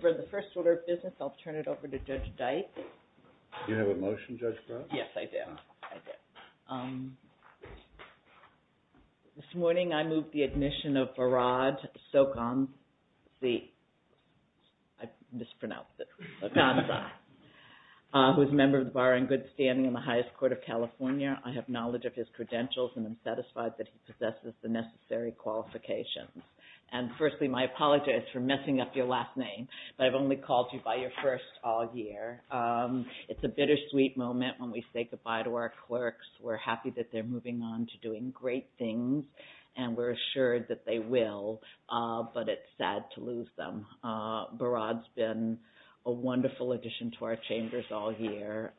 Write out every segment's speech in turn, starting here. For the first order of business, I''ll turn it over to Judge Dyke. Do you have a motion, Judge Brewer? Yes, I do. This morning I moved the admission of Varad Sokondze, I mispronounced it, Sokondze, who is a member of the Bar and Good Standing in the Highest Court of California. I have knowledge of his credentials and am satisfied that he possesses the necessary qualifications. And firstly, my apologies for messing up your last name, but I''ve only called you by your first all year. It''s a bittersweet moment when we say goodbye to our clerks. We''re happy that they''re moving on to doing great things, and we''re assured that they will, but it''s sad to lose them. Varad''s been a wonderful addition to our chambers all year.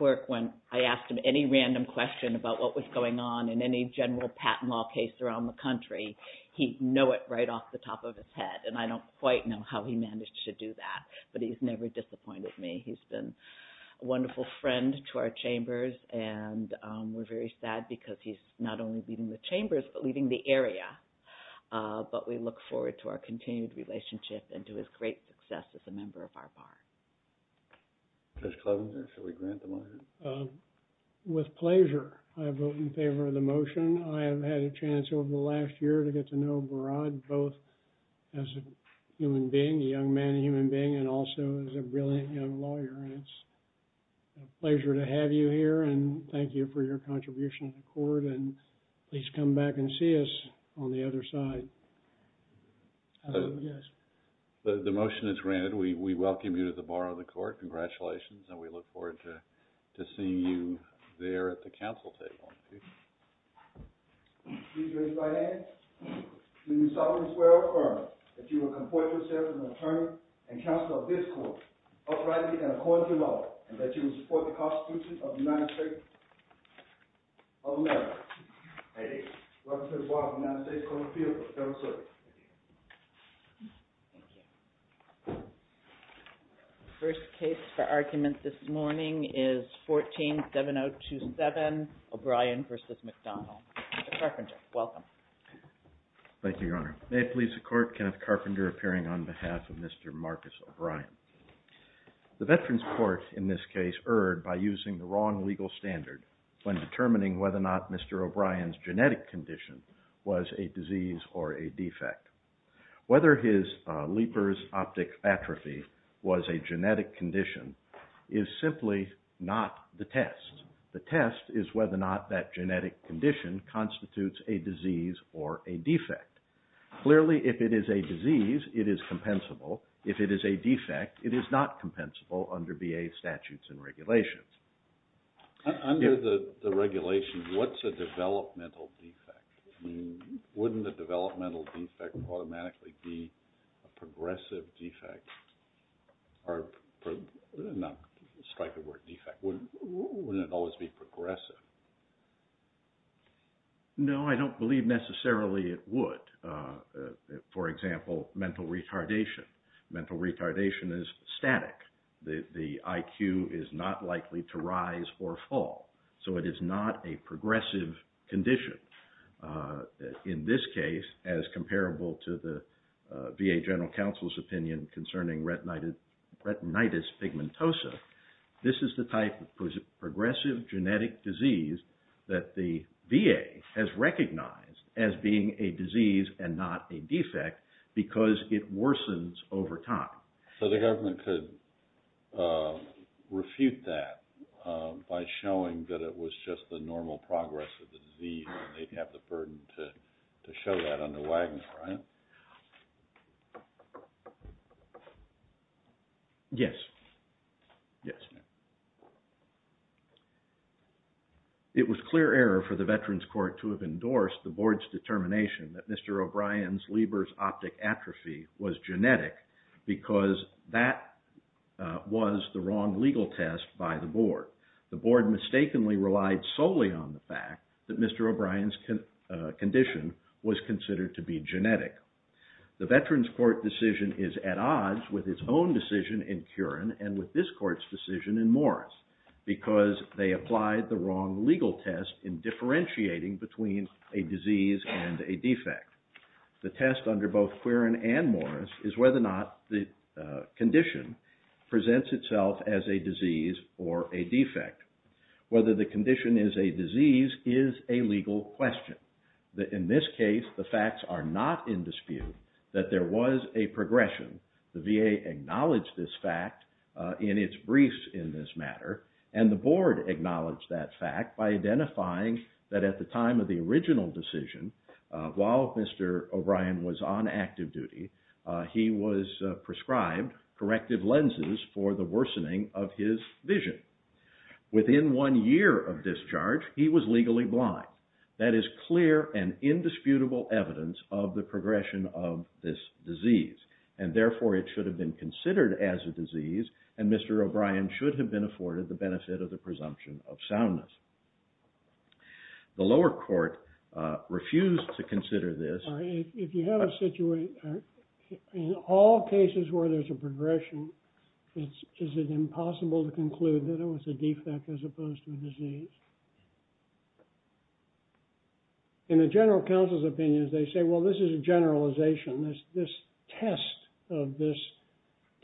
When I asked him any random question about what was going on in any general patent law case around the country, he knew it right off the top of his head, and I don''t quite know how he managed to do that, but he''s never disappointed me. He''s been a wonderful friend to our chambers, and we''re very sad because he''s not only leaving the chambers, but leaving the area. But we look forward to our continued relationship and to his great success as a member of our Bar. Judge Cleveland, shall we grant the motion? With pleasure. I vote in favor of the motion. I have had a chance over the last year to get to know Varad both as a human being, a young man, a human being, and also as a brilliant young lawyer, and it''s a pleasure to have you here, and thank you for your contribution to the court, and please come back and see us on the other side. The motion is granted. We welcome you to the Bar of the Court. Congratulations, and we look forward to seeing you there at the council table. Please raise your right hand. Do you solemnly swear or affirm that you will comport yourself as an attorney and counsel of this court, uprightly and according to law, and that you will support the Constitution of the United States of America? I do. We welcome you to the Bar of the United States Court of Appeals. The first case for argument this morning is 14-7027, O'Brien v. McDonald. Mr. Carpenter, welcome. Thank you, Your Honor. May it please the Court, Kenneth Carpenter appearing on behalf of Mr. Marcus O'Brien. The Veterans Court in this case erred by using the wrong legal standard when determining whether or not Mr. O'Brien's genetic condition was a disease or a defect. Whether his Leeper's optic atrophy was a genetic condition is simply not the test. The test is whether or not that genetic condition constitutes a disease or a defect. Clearly, if it is a disease, it is compensable. If it is a defect, it is not compensable under VA statutes and regulations. Under the regulation, what's a developmental defect? Wouldn't a developmental defect automatically be a progressive defect? Or not strike a word defect. Wouldn't it always be progressive? No, I don't believe necessarily it would. For example, mental retardation. Mental retardation is static. The IQ is not likely to rise or fall. So it is not a progressive condition. In this case, as comparable to the VA General Counsel's opinion concerning retinitis pigmentosa, this is the type of progressive genetic disease that the VA has recognized as being a disease and not a defect because it worsens over time. So the government could refute that by showing that it was just the normal progress of the disease and they'd have the burden to show that under Wagner, right? Yes. Yes. It was clear error for the Veterans Court to have endorsed the Board's determination that Mr. O'Brien's Leber's optic atrophy was genetic because that was the wrong legal test by the Board. The Board mistakenly relied solely on the fact that Mr. O'Brien's condition was considered to be genetic. The Veterans Court decision is at odds with its own decision in Curran and with this Court's decision in Morris because they applied the wrong legal test in differentiating between a disease and a defect. The test under both Curran and Morris is whether or not the condition presents itself as a disease or a defect. Whether the condition is a disease is a legal question. In this case, the facts are not in dispute that there was a progression. The VA acknowledged this fact in its briefs in this matter, and the Board acknowledged that fact by identifying that at the time of the original decision, while Mr. O'Brien was on active duty, he was prescribed corrective lenses for the worsening of his vision. Within one year of discharge, he was legally blind. That is clear and indisputable evidence of the progression of this disease. And therefore, it should have been considered as a disease, and Mr. O'Brien should have been afforded the benefit of the presumption of soundness. The lower court refused to consider this. If you have a situation, in all cases where there's a progression, is it impossible to conclude that it was a defect as opposed to a disease? In the general counsel's opinions, they say, well, this is a generalization. This test of this,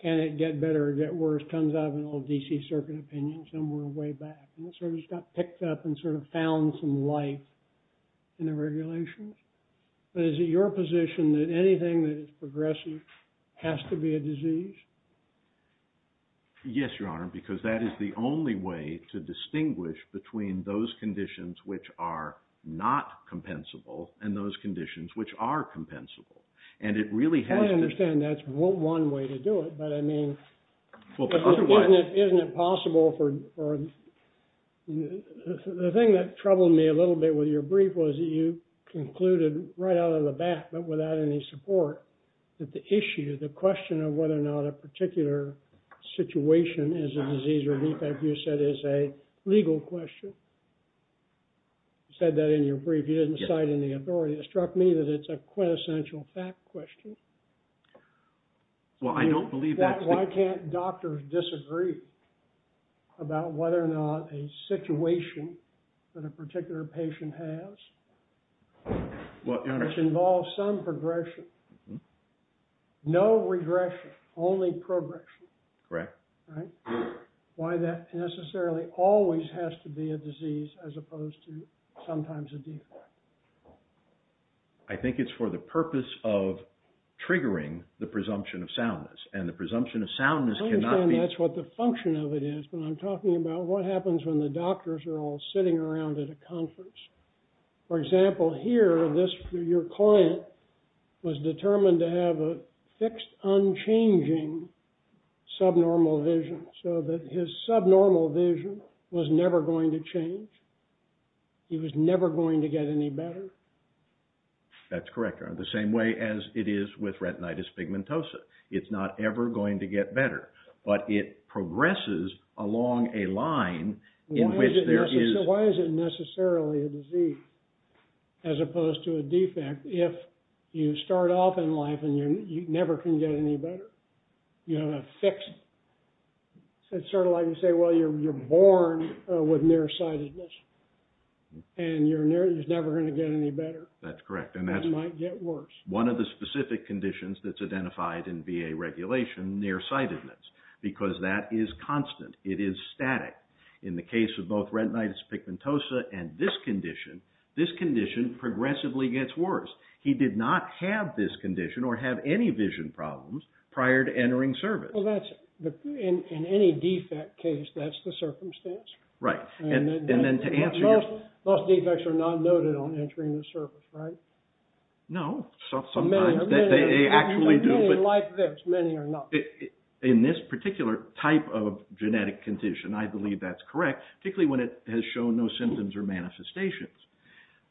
can it get better or get worse, comes out of an old D.C. Circuit opinion somewhere way back. And it sort of just got picked up and sort of found some life in the regulations. But is it your position that anything that is progressive has to be a disease? Yes, Your Honor, because that is the only way to distinguish between those conditions which are not compensable and those conditions which are compensable. I understand that's one way to do it, but I mean, isn't it possible for... The thing that troubled me a little bit with your brief was that you concluded right out of the bat, but without any support, that the issue, the question of whether or not a particular situation is a disease or defect, you said is a legal question. You said that in your brief. You didn't cite any authority. It struck me that it's a quintessential fact question. Well, I don't believe that... Why can't doctors disagree about whether or not a situation that a particular patient has? Which involves some progression. No regression, only progression. Correct. Right? Why that necessarily always has to be a disease as opposed to sometimes a defect. I think it's for the purpose of triggering the presumption of soundness. And the presumption of soundness cannot be... I understand that's what the function of it is, but I'm talking about what happens when the doctors are all sitting around at a conference. For example, here, your client was determined to have a fixed, unchanging subnormal vision, so that his subnormal vision was never going to change. He was never going to get any better. That's correct. The same way as it is with retinitis pigmentosa. It's not ever going to get better. But it progresses along a line in which there is... Why is it necessarily a disease as opposed to a defect, if you start off in life and you never can get any better? You have a fixed... It's sort of like you say, well, you're born with nearsightedness. And you're never going to get any better. That's correct. And that might get worse. One of the specific conditions that's identified in VA regulation, nearsightedness, because that is constant. It is static. In the case of both retinitis pigmentosa and this condition, this condition progressively gets worse. He did not have this condition or have any vision problems prior to entering service. Well, that's... In any defect case, that's the circumstance. Right. And then to answer your... Most defects are not noted on entering the service, right? No. Sometimes they actually do. Many are like this. Many are not. In this particular type of genetic condition, I believe that's correct, particularly when it has shown no symptoms or manifestations.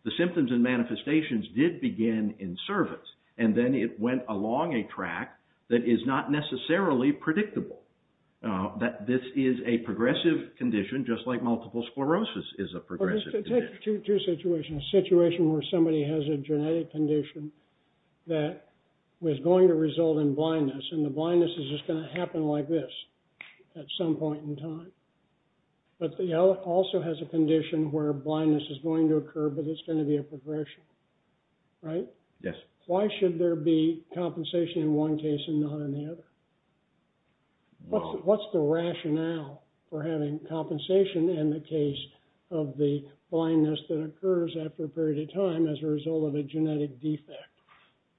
The symptoms and manifestations did begin in service, and then it went along a track that is not necessarily predictable. This is a progressive condition, just like multiple sclerosis is a progressive condition. Take two situations. A situation where somebody has a genetic condition that was going to result in blindness, and the blindness is just going to happen like this at some point in time. But it also has a condition where blindness is going to occur, but it's going to be a progression. Right? Yes. Why should there be compensation in one case and not in the other? What's the rationale for having compensation in the case of the blindness that occurs after a period of time as a result of a genetic defect,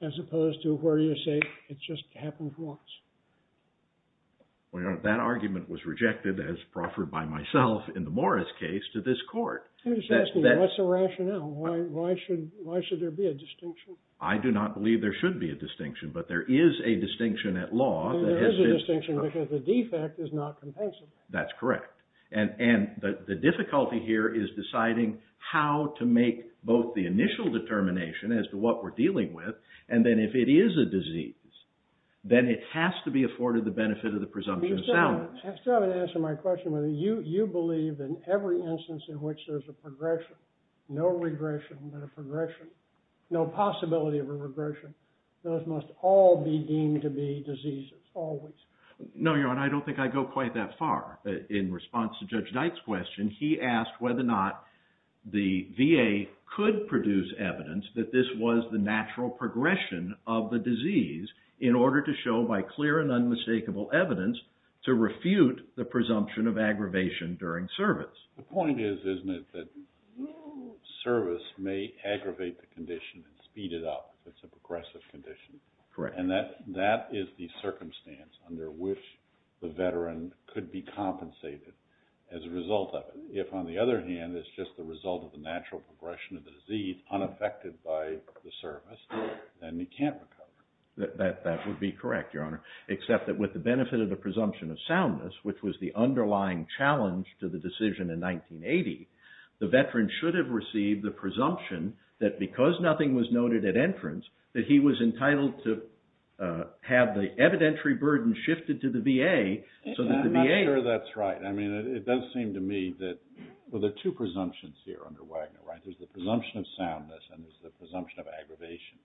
as opposed to where you say it just happens once? Well, that argument was rejected as proffered by myself in the Morris case to this court. I'm just asking, what's the rationale? Why should there be a distinction? I do not believe there should be a distinction, but there is a distinction at law. There is a distinction because the defect is not compensable. That's correct. And the difficulty here is deciding how to make both the initial determination as to what we're dealing with, and then if it is a disease, then it has to be afforded the benefit of the presumption of salvage. You still haven't answered my question. You believe that in every instance in which there's a progression, no regression but a progression, no possibility of a regression, those must all be deemed to be diseases, always. No, Your Honor, I don't think I go quite that far. In response to Judge Knight's question, he asked whether or not the VA could produce evidence that this was the natural progression of the disease in order to show by clear and unmistakable evidence to refute the presumption of aggravation during service. Speed it up if it's a progressive condition. Correct. And that is the circumstance under which the veteran could be compensated as a result of it. If, on the other hand, it's just the result of the natural progression of the disease unaffected by the service, then he can't recover. That would be correct, Your Honor, except that with the benefit of the presumption of soundness, which was the underlying challenge to the decision in 1980, the veteran should have received the presumption that because nothing was noted at entrance, that he was entitled to have the evidentiary burden shifted to the VA. I'm not sure that's right. It does seem to me that there are two presumptions here under Wagner, right? There's the presumption of soundness and there's the presumption of aggravation.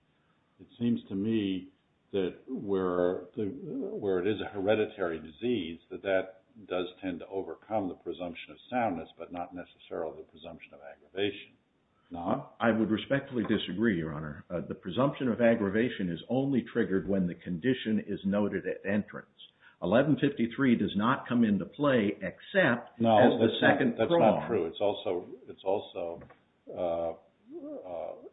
It seems to me that where it is a hereditary disease, that that does tend to overcome the presumption of soundness but not necessarily the presumption of aggravation. I would respectfully disagree, Your Honor. The presumption of aggravation is only triggered when the condition is noted at entrance. 1153 does not come into play except as the second prong. No, that's not true. It's also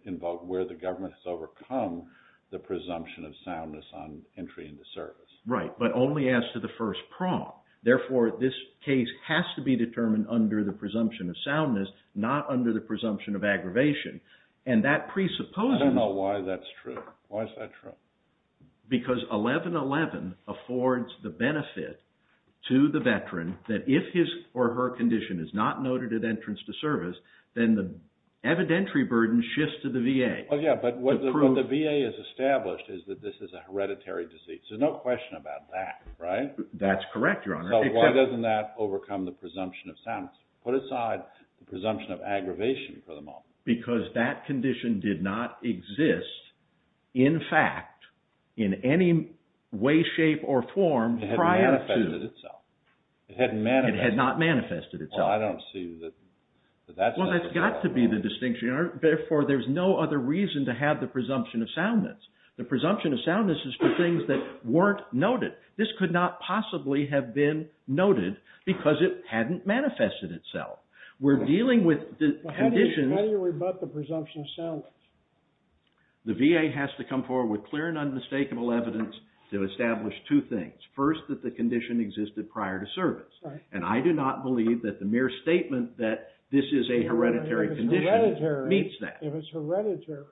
involved where the government has overcome the presumption of soundness on entry into service. Right, but only as to the first prong. Therefore, this case has to be determined under the presumption of soundness, not under the presumption of aggravation. I don't know why that's true. Why is that true? Because 1111 affords the benefit to the veteran that if his or her condition is not noted at entrance to service, then the evidentiary burden shifts to the VA. Yeah, but what the VA has established is that this is a hereditary disease. There's no question about that, right? That's correct, Your Honor. Why doesn't that overcome the presumption of soundness? Put aside the presumption of aggravation for the moment. Because that condition did not exist, in fact, in any way, shape, or form prior to. It hadn't manifested itself. It had not manifested itself. Well, I don't see that that's necessary. Well, that's got to be the distinction, Your Honor. Therefore, there's no other reason to have the presumption of soundness. The presumption of soundness is for things that weren't noted. This could not possibly have been noted because it hadn't manifested itself. We're dealing with the condition. How do you rebut the presumption of soundness? The VA has to come forward with clear and unmistakable evidence to establish two things. First, that the condition existed prior to service. And I do not believe that the mere statement that this is a hereditary condition meets that. If it's hereditary,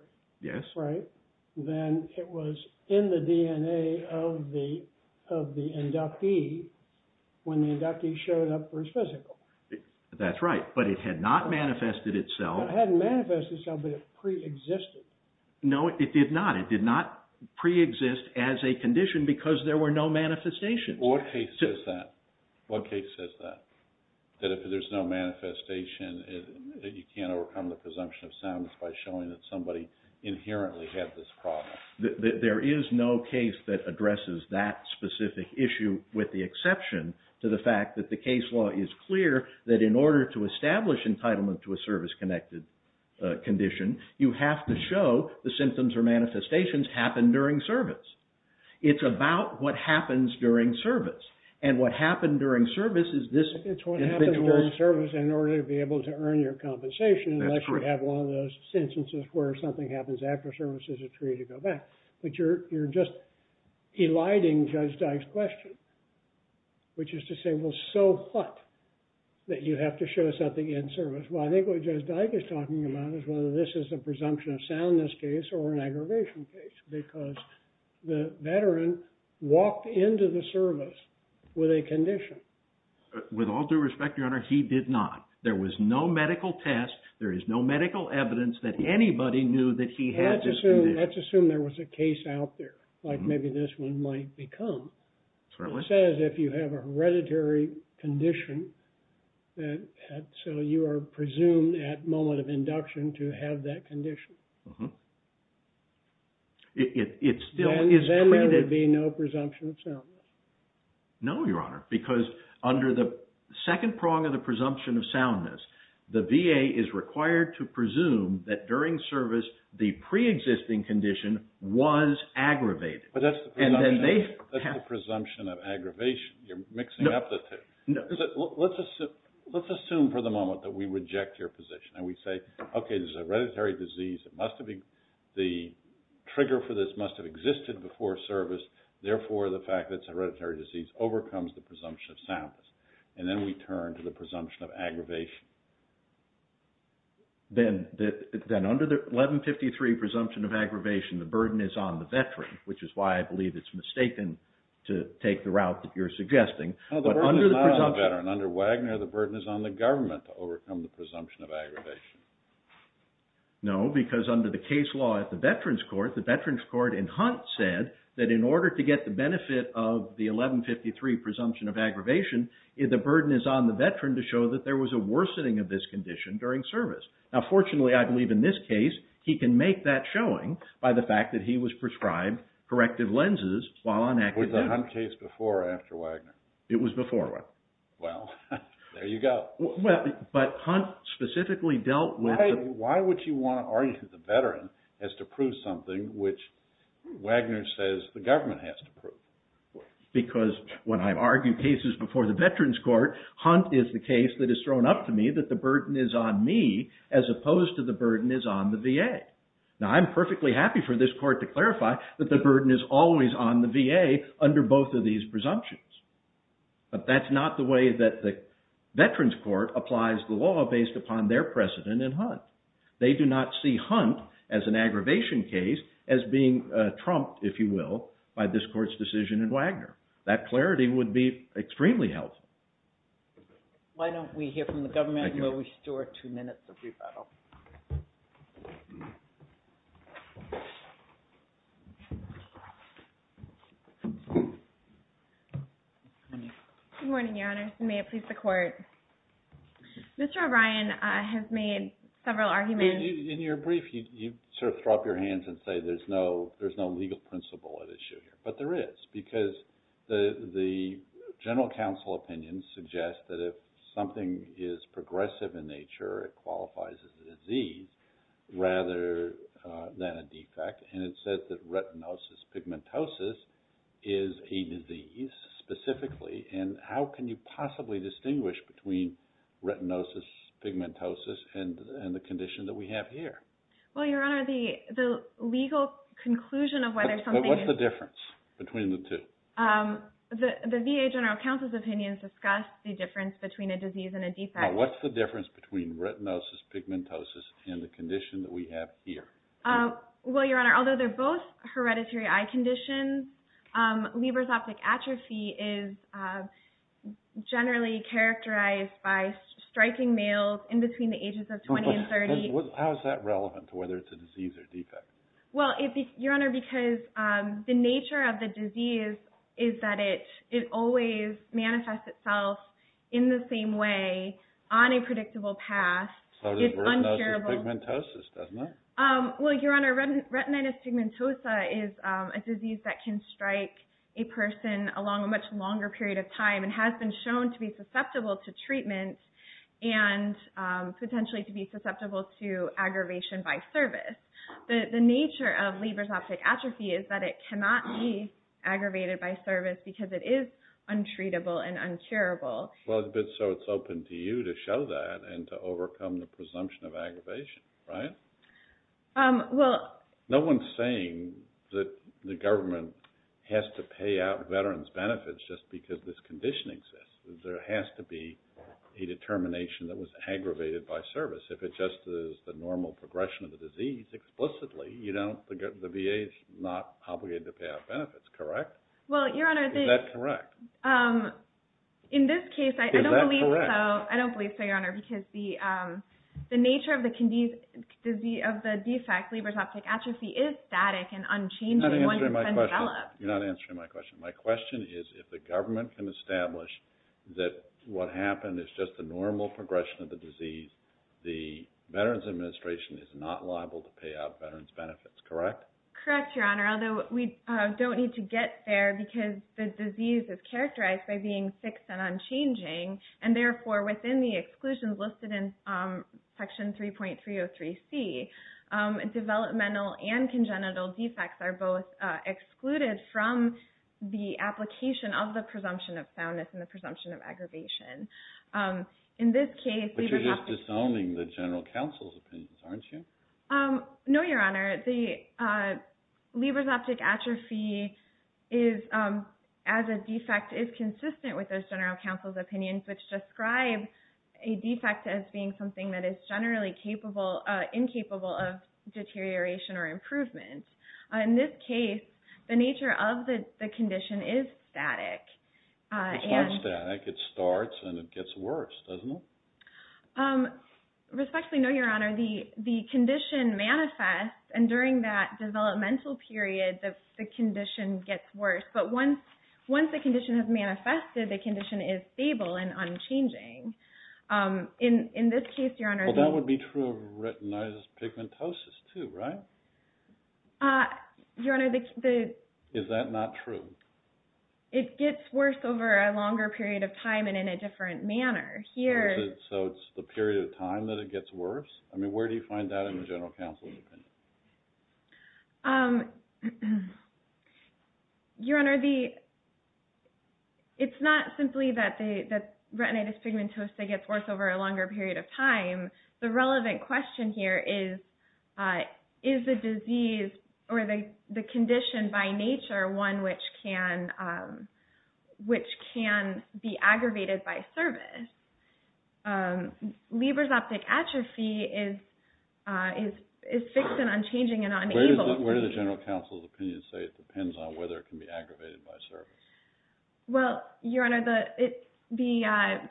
then it was in the DNA of the inductee when the inductee showed up for his physical. That's right. But it had not manifested itself. It hadn't manifested itself, but it preexisted. No, it did not. It did not preexist as a condition because there were no manifestations. What case says that? That if there's no manifestation, you can't overcome the presumption of soundness by showing that somebody inherently had this problem. There is no case that addresses that specific issue with the exception to the fact that the case law is clear that in order to establish entitlement to a service-connected condition, you have to show the symptoms or manifestations happened during service. It's about what happens during service. And what happened during service is this. It's what happened during service in order to be able to earn your compensation unless you have one of those instances where something happens after service is a tree to go back. But you're just eliding Judge Dyke's question, which is to say, well, so what? That you have to show something in service. Well, I think what Judge Dyke is talking about is whether this is a presumption of soundness case or an aggravation case because the veteran walked into the service with a condition. With all due respect, Your Honor, he did not. There was no medical test. There is no medical evidence that anybody knew that he had this condition. Let's assume there was a case out there like maybe this one might become. It says if you have a hereditary condition, so you are presumed at moment of induction to have that condition. Then there would be no presumption of soundness. No, Your Honor, because under the second prong of the presumption of soundness, the VA is required to presume that during service the preexisting condition was aggravated. But that's the presumption of aggravation. You're mixing up the two. No. Let's assume for the moment that we reject your position and we say, okay, this is a hereditary disease. The trigger for this must have existed before service. Therefore, the fact that it's a hereditary disease overcomes the presumption of soundness. And then we turn to the presumption of aggravation. Then under the 1153 presumption of aggravation, the burden is on the veteran, which is why I believe it's mistaken to take the route that you're suggesting. No, the burden is not on the veteran. Under Wagner, the burden is on the government to overcome the presumption of aggravation. No, because under the case law at the Veterans Court, the Veterans Court in Hunt said that in order to get the benefit of the 1153 presumption of aggravation, the burden is on the veteran to show that there was a worsening of this condition during service. Now fortunately, I believe in this case, he can make that showing by the fact that he was prescribed corrective lenses while on active duty. Was the Hunt case before or after Wagner? It was before. Well, there you go. But Hunt specifically dealt with... Why would you want to argue that the veteran has to prove something which Wagner says the government has to prove? Because when I argue cases before the Veterans Court, Hunt is the case that is thrown up to me that the burden is on me as opposed to the burden is on the VA. Now I'm perfectly happy for this court to clarify that the burden is always on the VA under both of these presumptions. But that's not the way that the Veterans Court applies the law based upon their precedent in Hunt. They do not see Hunt as an aggravation case as being trumped, if you will, by this court's decision in Wagner. That clarity would be extremely helpful. Why don't we hear from the government and we'll restore two minutes of rebuttal. Good morning, Your Honor. May it please the Court. Mr. O'Brien has made several arguments. In your brief, you sort of throw up your hands and say there's no legal principle at issue here. But there is because the general counsel opinion suggests that if something is progressive in nature, it qualifies as a disease rather than a defect. And it says that retinosis pigmentosus is a disease specifically. And how can you possibly distinguish between retinosis pigmentosus and the condition that we have here? Well, Your Honor, the legal conclusion of whether something is What's the difference between the two? The VA general counsel's opinions discuss the difference between a disease and a defect. Now, what's the difference between retinosis pigmentosus and the condition that we have here? Well, Your Honor, although they're both hereditary eye conditions, Leber's optic atrophy is generally characterized by striking males in between the ages of 20 and 30. How is that relevant to whether it's a disease or defect? Well, Your Honor, because the nature of the disease is that it always manifests itself in the same way on a predictable path. So it's retinosis pigmentosus, isn't it? Well, Your Honor, retinitis pigmentosa is a disease that can strike a person along a much longer period of time and has been shown to be susceptible to treatment and potentially to be susceptible to aggravation by service. The nature of Leber's optic atrophy is that it cannot be aggravated by service because it is untreatable and uncurable. Well, but so it's open to you to show that and to overcome the presumption of aggravation, right? Well, No one's saying that the government has to pay out veterans' benefits just because this condition exists. There has to be a determination that was aggravated by service. If it just is the normal progression of the disease explicitly, the VA is not obligated to pay out benefits, correct? Well, Your Honor, Is that correct? In this case, I don't believe so. Is that correct? I don't believe so, Your Honor, because the nature of the defect, Leber's optic atrophy, is static and unchanging once it's been developed. You're not answering my question. My question is, if the government can establish that what happened is just the normal progression of the disease, the Veterans Administration is not liable to pay out veterans' benefits, correct? Correct, Your Honor, although we don't need to get there because the disease is characterized by being fixed and unchanging, and therefore within the exclusions listed in Section 3.303C, developmental and congenital defects are both excluded from the application of the presumption of soundness and the presumption of aggravation. In this case, Leber's optic… But you're just disowning the general counsel's opinions, aren't you? No, Your Honor. Leber's optic atrophy, as a defect, is consistent with those general counsel's opinions, which describe a defect as being something that is generally incapable of deterioration or improvement. In this case, the nature of the condition is static. It's not static. It starts and it gets worse, doesn't it? Respectfully, no, Your Honor. The condition manifests, and during that developmental period, the condition gets worse. But once the condition has manifested, the condition is stable and unchanging. In this case, Your Honor… Well, that would be true of retinitis pigmentosus, too, right? Your Honor, the… Is that not true? It gets worse over a longer period of time and in a different manner. So it's the period of time that it gets worse? I mean, where do you find that in the general counsel's opinion? Your Honor, it's not simply that retinitis pigmentosa gets worse over a longer period of time. The relevant question here is, is the disease or the condition by nature one which can be aggravated by service? Leber's optic atrophy is fixed and unchanging and unable… Where do the general counsel's opinions say it depends on whether it can be aggravated by service? Well, Your Honor, the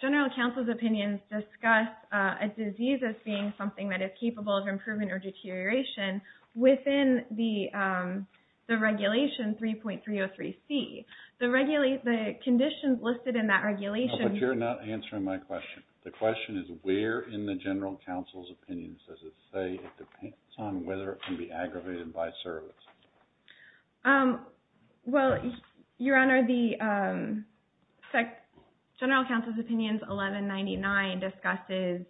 general counsel's opinions discuss a disease as being something that is capable of improvement or deterioration within the regulation 3.303C. The conditions listed in that regulation… No, but you're not answering my question. The question is, where in the general counsel's opinions does it say it depends on whether it can be aggravated by service? Well, Your Honor, the general counsel's opinions 1199 discusses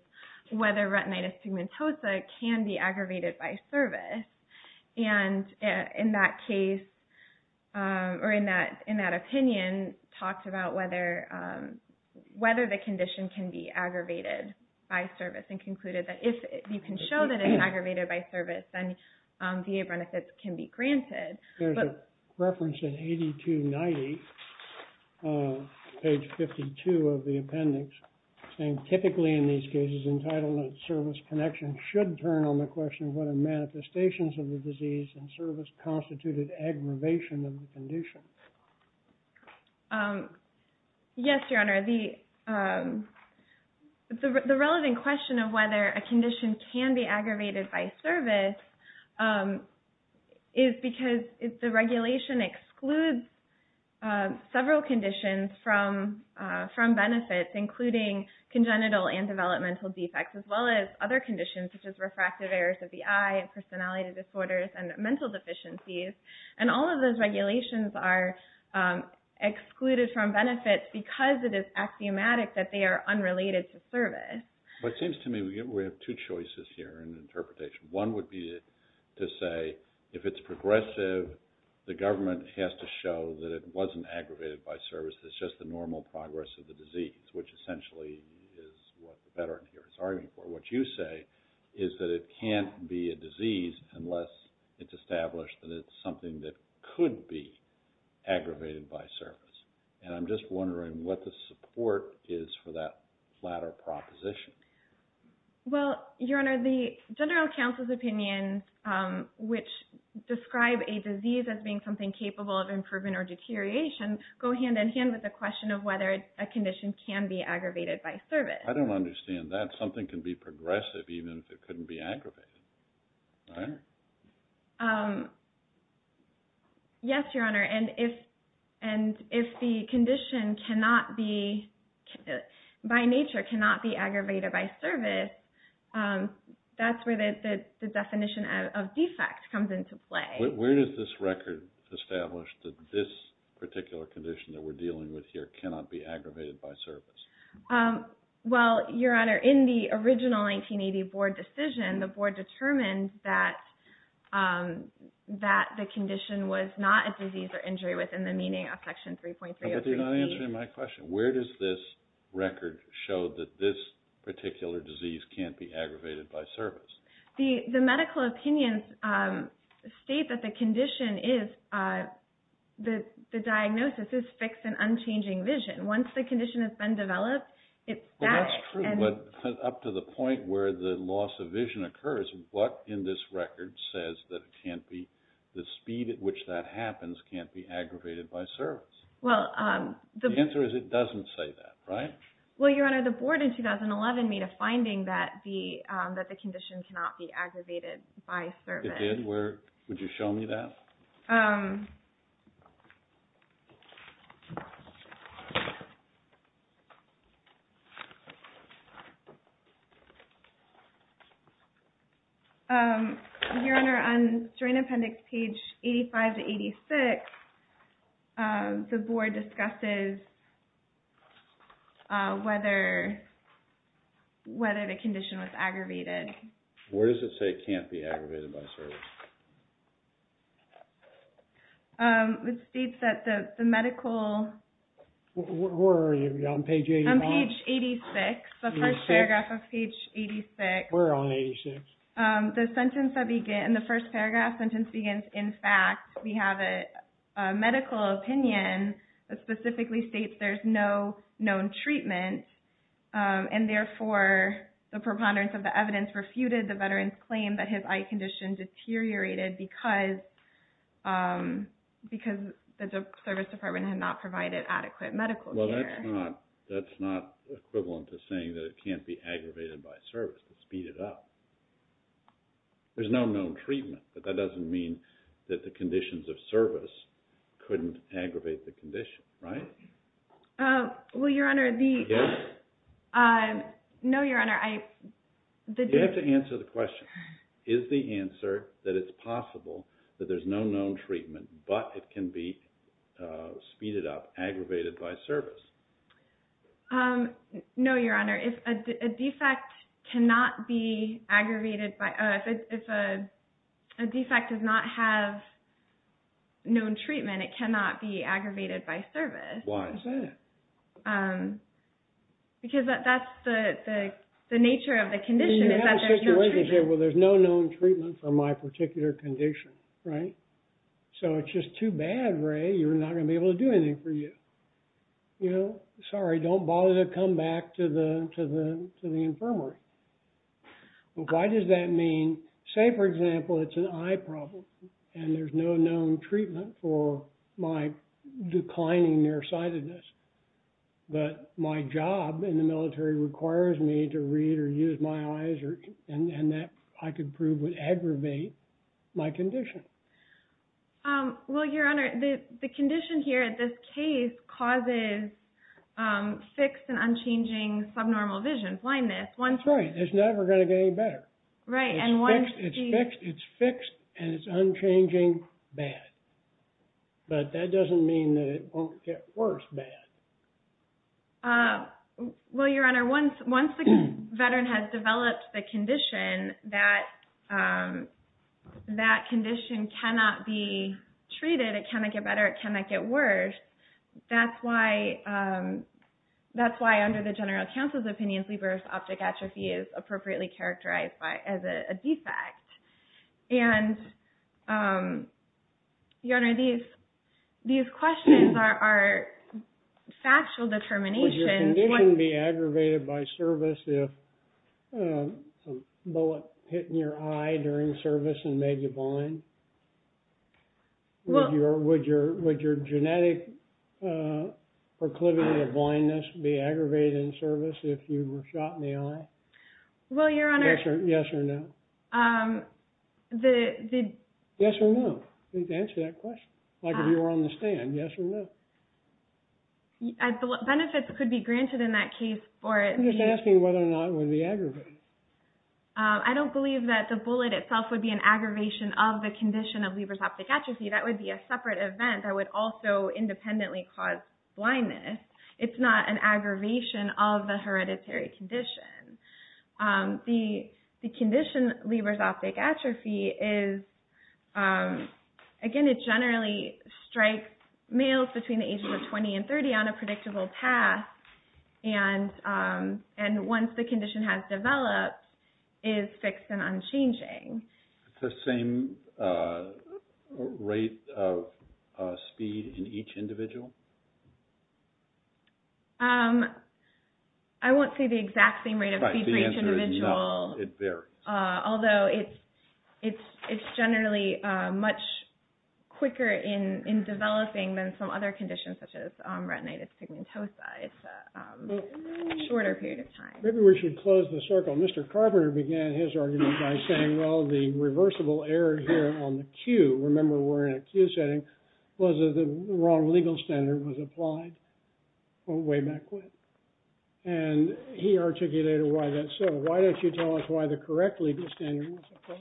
whether retinitis pigmentosa can be aggravated by service. And in that case, or in that opinion, talks about whether the condition can be aggravated by service and concluded that if you can show that it's aggravated by service, then VA benefits can be granted. There's a reference in 8290, page 52 of the appendix, saying typically in these cases, entitlement service connection should turn on the question of whether manifestations of the disease and service constituted aggravation of the condition. Yes, Your Honor. The relevant question of whether a condition can be aggravated by service is because the regulation excludes several conditions from benefits, including congenital and developmental defects, as well as other conditions, such as refractive errors of the eye and personality disorders and mental deficiencies. And all of those regulations are excluded from benefits because it is axiomatic that they are unrelated to service. But it seems to me we have two choices here in the interpretation. One would be to say if it's progressive, the government has to show that it wasn't aggravated by service. It's just the normal progress of the disease, which essentially is what the veteran here is arguing for. What you say is that it can't be a disease unless it's established that it's something that could be aggravated by service. And I'm just wondering what the support is for that latter proposition. Well, Your Honor, the general counsel's opinions, which describe a disease as being something capable of improvement or deterioration, go hand-in-hand with the question of whether a condition can be aggravated by service. I don't understand that. Something can be progressive even if it couldn't be aggravated, right? Yes, Your Honor. And if the condition by nature cannot be aggravated by service, that's where the definition of defect comes into play. Where does this record establish that this particular condition that we're dealing with here cannot be aggravated by service? Well, Your Honor, in the original 1980 board decision, the board determined that the condition was not a disease or injury within the meaning of Section 3.303c. But you're not answering my question. Where does this record show that this particular disease can't be aggravated by service? The medical opinions state that the diagnosis is fixed and unchanging vision. Once the condition has been developed, it's static. Well, that's true. But up to the point where the loss of vision occurs, what in this record says that the speed at which that happens can't be aggravated by service? The answer is it doesn't say that, right? Well, Your Honor, the board in 2011 made a finding that the condition cannot be aggravated by service. It did? Would you show me that? Your Honor, on strain appendix page 85 to 86, the board discusses whether the condition was aggravated. Where does it say it can't be aggravated by service? It states that the medical... Where are you? Are you on page 85? I'm page 86, the first paragraph of page 86. We're on 86. The first paragraph sentence begins, in fact, we have a medical opinion that specifically states there's no known treatment. And therefore, the preponderance of the evidence refuted the veteran's claim that his eye condition deteriorated because the service department had not provided adequate medical care. Well, that's not equivalent to saying that it can't be aggravated by service to speed it up. There's no known treatment, but that doesn't mean that the conditions of service couldn't aggravate the condition, right? Well, Your Honor, the... Yes? No, Your Honor, I... You have to answer the question. Is the answer that it's possible that there's no known treatment, but it can be speeded up, aggravated by service? No, Your Honor. If a defect cannot be aggravated by... If a defect does not have known treatment, it cannot be aggravated by service. Why is that? Because that's the nature of the condition is that there's no treatment. Well, there's no known treatment for my particular condition, right? So it's just too bad, Ray, you're not going to be able to do anything for you. You know, sorry, don't bother to come back to the infirmary. Why does that mean... Say, for example, it's an eye problem, and there's no known treatment for my declining nearsightedness. But my job in the military requires me to read or use my eyes, and that, I could prove, would aggravate my condition. Well, Your Honor, the condition here at this case causes fixed and unchanging subnormal vision, blindness. That's right. It's never going to get any better. It's fixed, and it's unchanging bad. But that doesn't mean that it won't get worse bad. Well, Your Honor, once the veteran has developed the condition, that condition cannot be treated. It cannot get better. It cannot get worse. That's why, under the general counsel's opinion, sleepers' optic atrophy is appropriately characterized as a defect. And, Your Honor, these questions are factual determinations. Would your condition be aggravated by service if a bullet hit in your eye during service and made you blind? Would your genetic proclivity of blindness be aggravated in service if you were shot in the eye? Well, Your Honor, Yes or no? The Yes or no? Answer that question. Like if you were on the stand, yes or no? Benefits could be granted in that case for it. I'm just asking whether or not it would be aggravated. I don't believe that the bullet itself would be an aggravation of the condition of sleepers' optic atrophy. That would be a separate event that would also independently cause blindness. It's not an aggravation of the hereditary condition. The condition sleepers' optic atrophy is, again, it generally strikes males between the ages of 20 and 30 on a predictable path. And once the condition has developed, it is fixed and unchanging. The same rate of speed in each individual? I won't say the exact same rate of speed for each individual. Right. The answer is no. It varies. Although it's generally much quicker in developing than some other conditions such as retinitis pigmentosa. It's a shorter period of time. Maybe we should close the circle. Mr. Carpenter began his argument by saying, well, the reversible error here on the Q, remember we're in a Q setting, was that the wrong legal standard was applied way back when. And he articulated why that's so. Why don't you tell us why the correct legal standard was applied?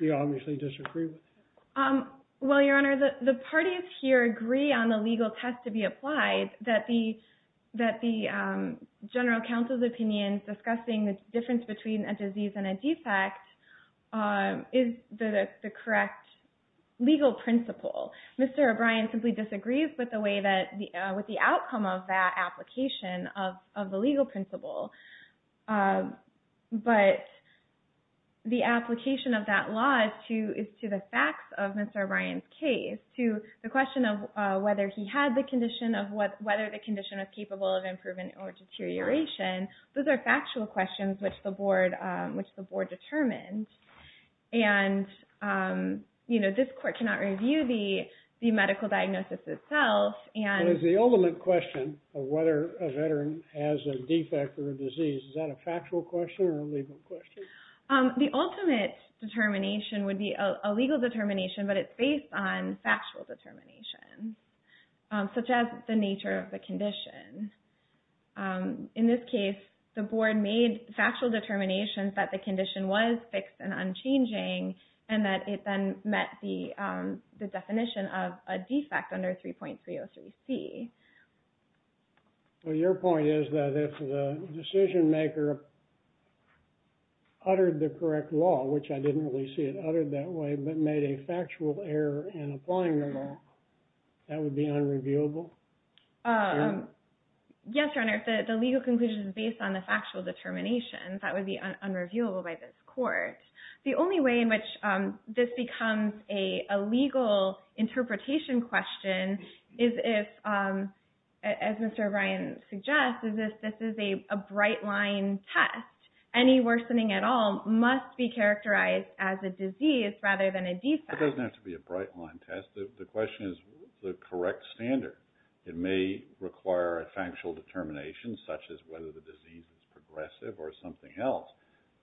You obviously disagree with that. Well, Your Honor, the parties here agree on the legal test to be applied that the general counsel's opinion discussing the difference between a disease and a defect is the correct legal principle. Mr. O'Brien simply disagrees with the outcome of that application of the legal principle. But the application of that law is to the facts of Mr. O'Brien's case. To the question of whether he had the condition of whether the condition was capable of improvement or deterioration, those are factual questions which the board determined. And this court cannot review the medical diagnosis itself. But is the ultimate question of whether a veteran has a defect or a disease, is that a factual question or a legal question? The ultimate determination would be a legal determination, but it's based on factual determination, such as the nature of the condition. In this case, the board made factual determinations that the condition was fixed and unchanging and that it then met the definition of a defect under 3.303C. Well, your point is that if the decision maker uttered the correct law, which I didn't really see it uttered that way, but made a factual error in applying the law, that would be unreviewable? Yes, Your Honor. The legal conclusion is based on the factual determination. That would be unreviewable by this court. The only way in which this becomes a legal interpretation question is if, as Mr. O'Brien suggests, is if this is a bright-line test. Any worsening at all must be characterized as a disease rather than a defect. Well, it doesn't have to be a bright-line test. The question is the correct standard. It may require a factual determination such as whether the disease is progressive or something else,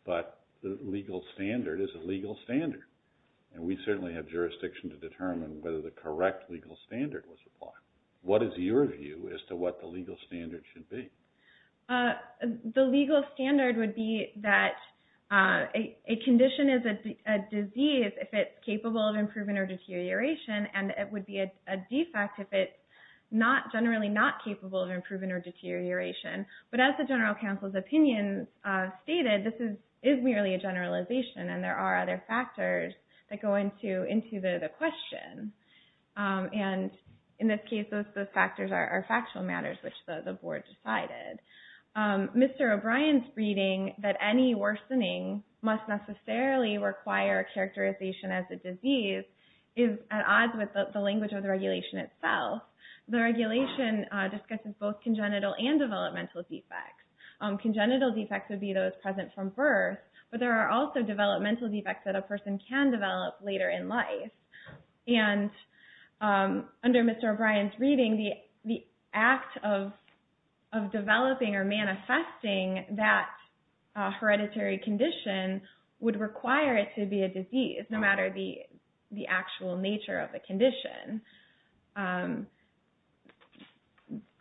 but the legal standard is a legal standard. And we certainly have jurisdiction to determine whether the correct legal standard was applied. What is your view as to what the legal standard should be? The legal standard would be that a condition is a disease if it's capable of improvement or deterioration, and it would be a defect if it's generally not capable of improvement or deterioration. But as the general counsel's opinion stated, this is merely a generalization, and there are other factors that go into the question. And in this case, those factors are factual matters, which the board decided. Mr. O'Brien's reading that any worsening must necessarily require characterization as a disease is at odds with the language of the regulation itself. The regulation discusses both congenital and developmental defects. Congenital defects would be those present from birth, but there are also developmental defects that a person can develop later in life. And under Mr. O'Brien's reading, the act of developing or manifesting that hereditary condition would require it to be a disease, no matter the actual nature of the condition.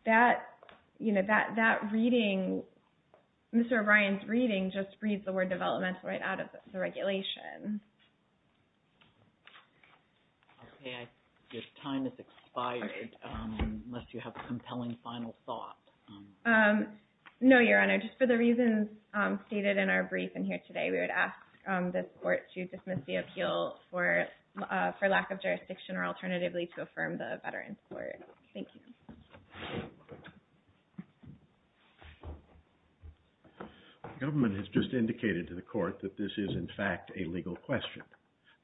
That reading, Mr. O'Brien's reading just reads the word developmental right out of the regulation. Okay, your time has expired, unless you have a compelling final thought. No, Your Honor. Just for the reasons stated in our brief in here today, we would ask this court to dismiss the appeal for lack of jurisdiction or alternatively to affirm the Veterans Court. Thank you. The government has just indicated to the court that this is in fact a legal question.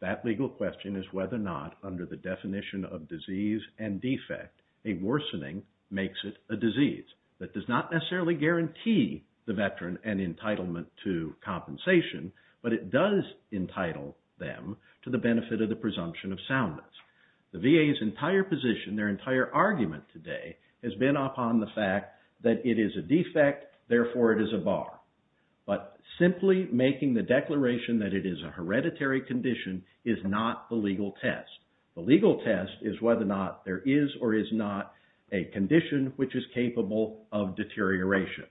That legal question is whether or not under the definition of disease and defect, a worsening makes it a disease. That does not necessarily guarantee the veteran an entitlement to compensation, but it does entitle them to the benefit of the presumption of soundness. The VA's entire position, their entire argument today has been upon the fact that it is a defect, therefore it is a bar. But simply making the declaration that it is a hereditary condition is not the legal test. The legal test is whether or not there is or is not a condition which is capable of deterioration.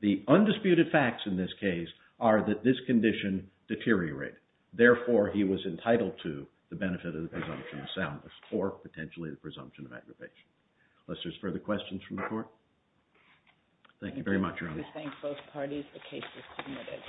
The undisputed facts in this case are that this condition deteriorated. Therefore, he was entitled to the benefit of the presumption of soundness or potentially the presumption of aggravation. Unless there are further questions from the court. Thank you very much, Your Honor. I thank both parties. The case is submitted.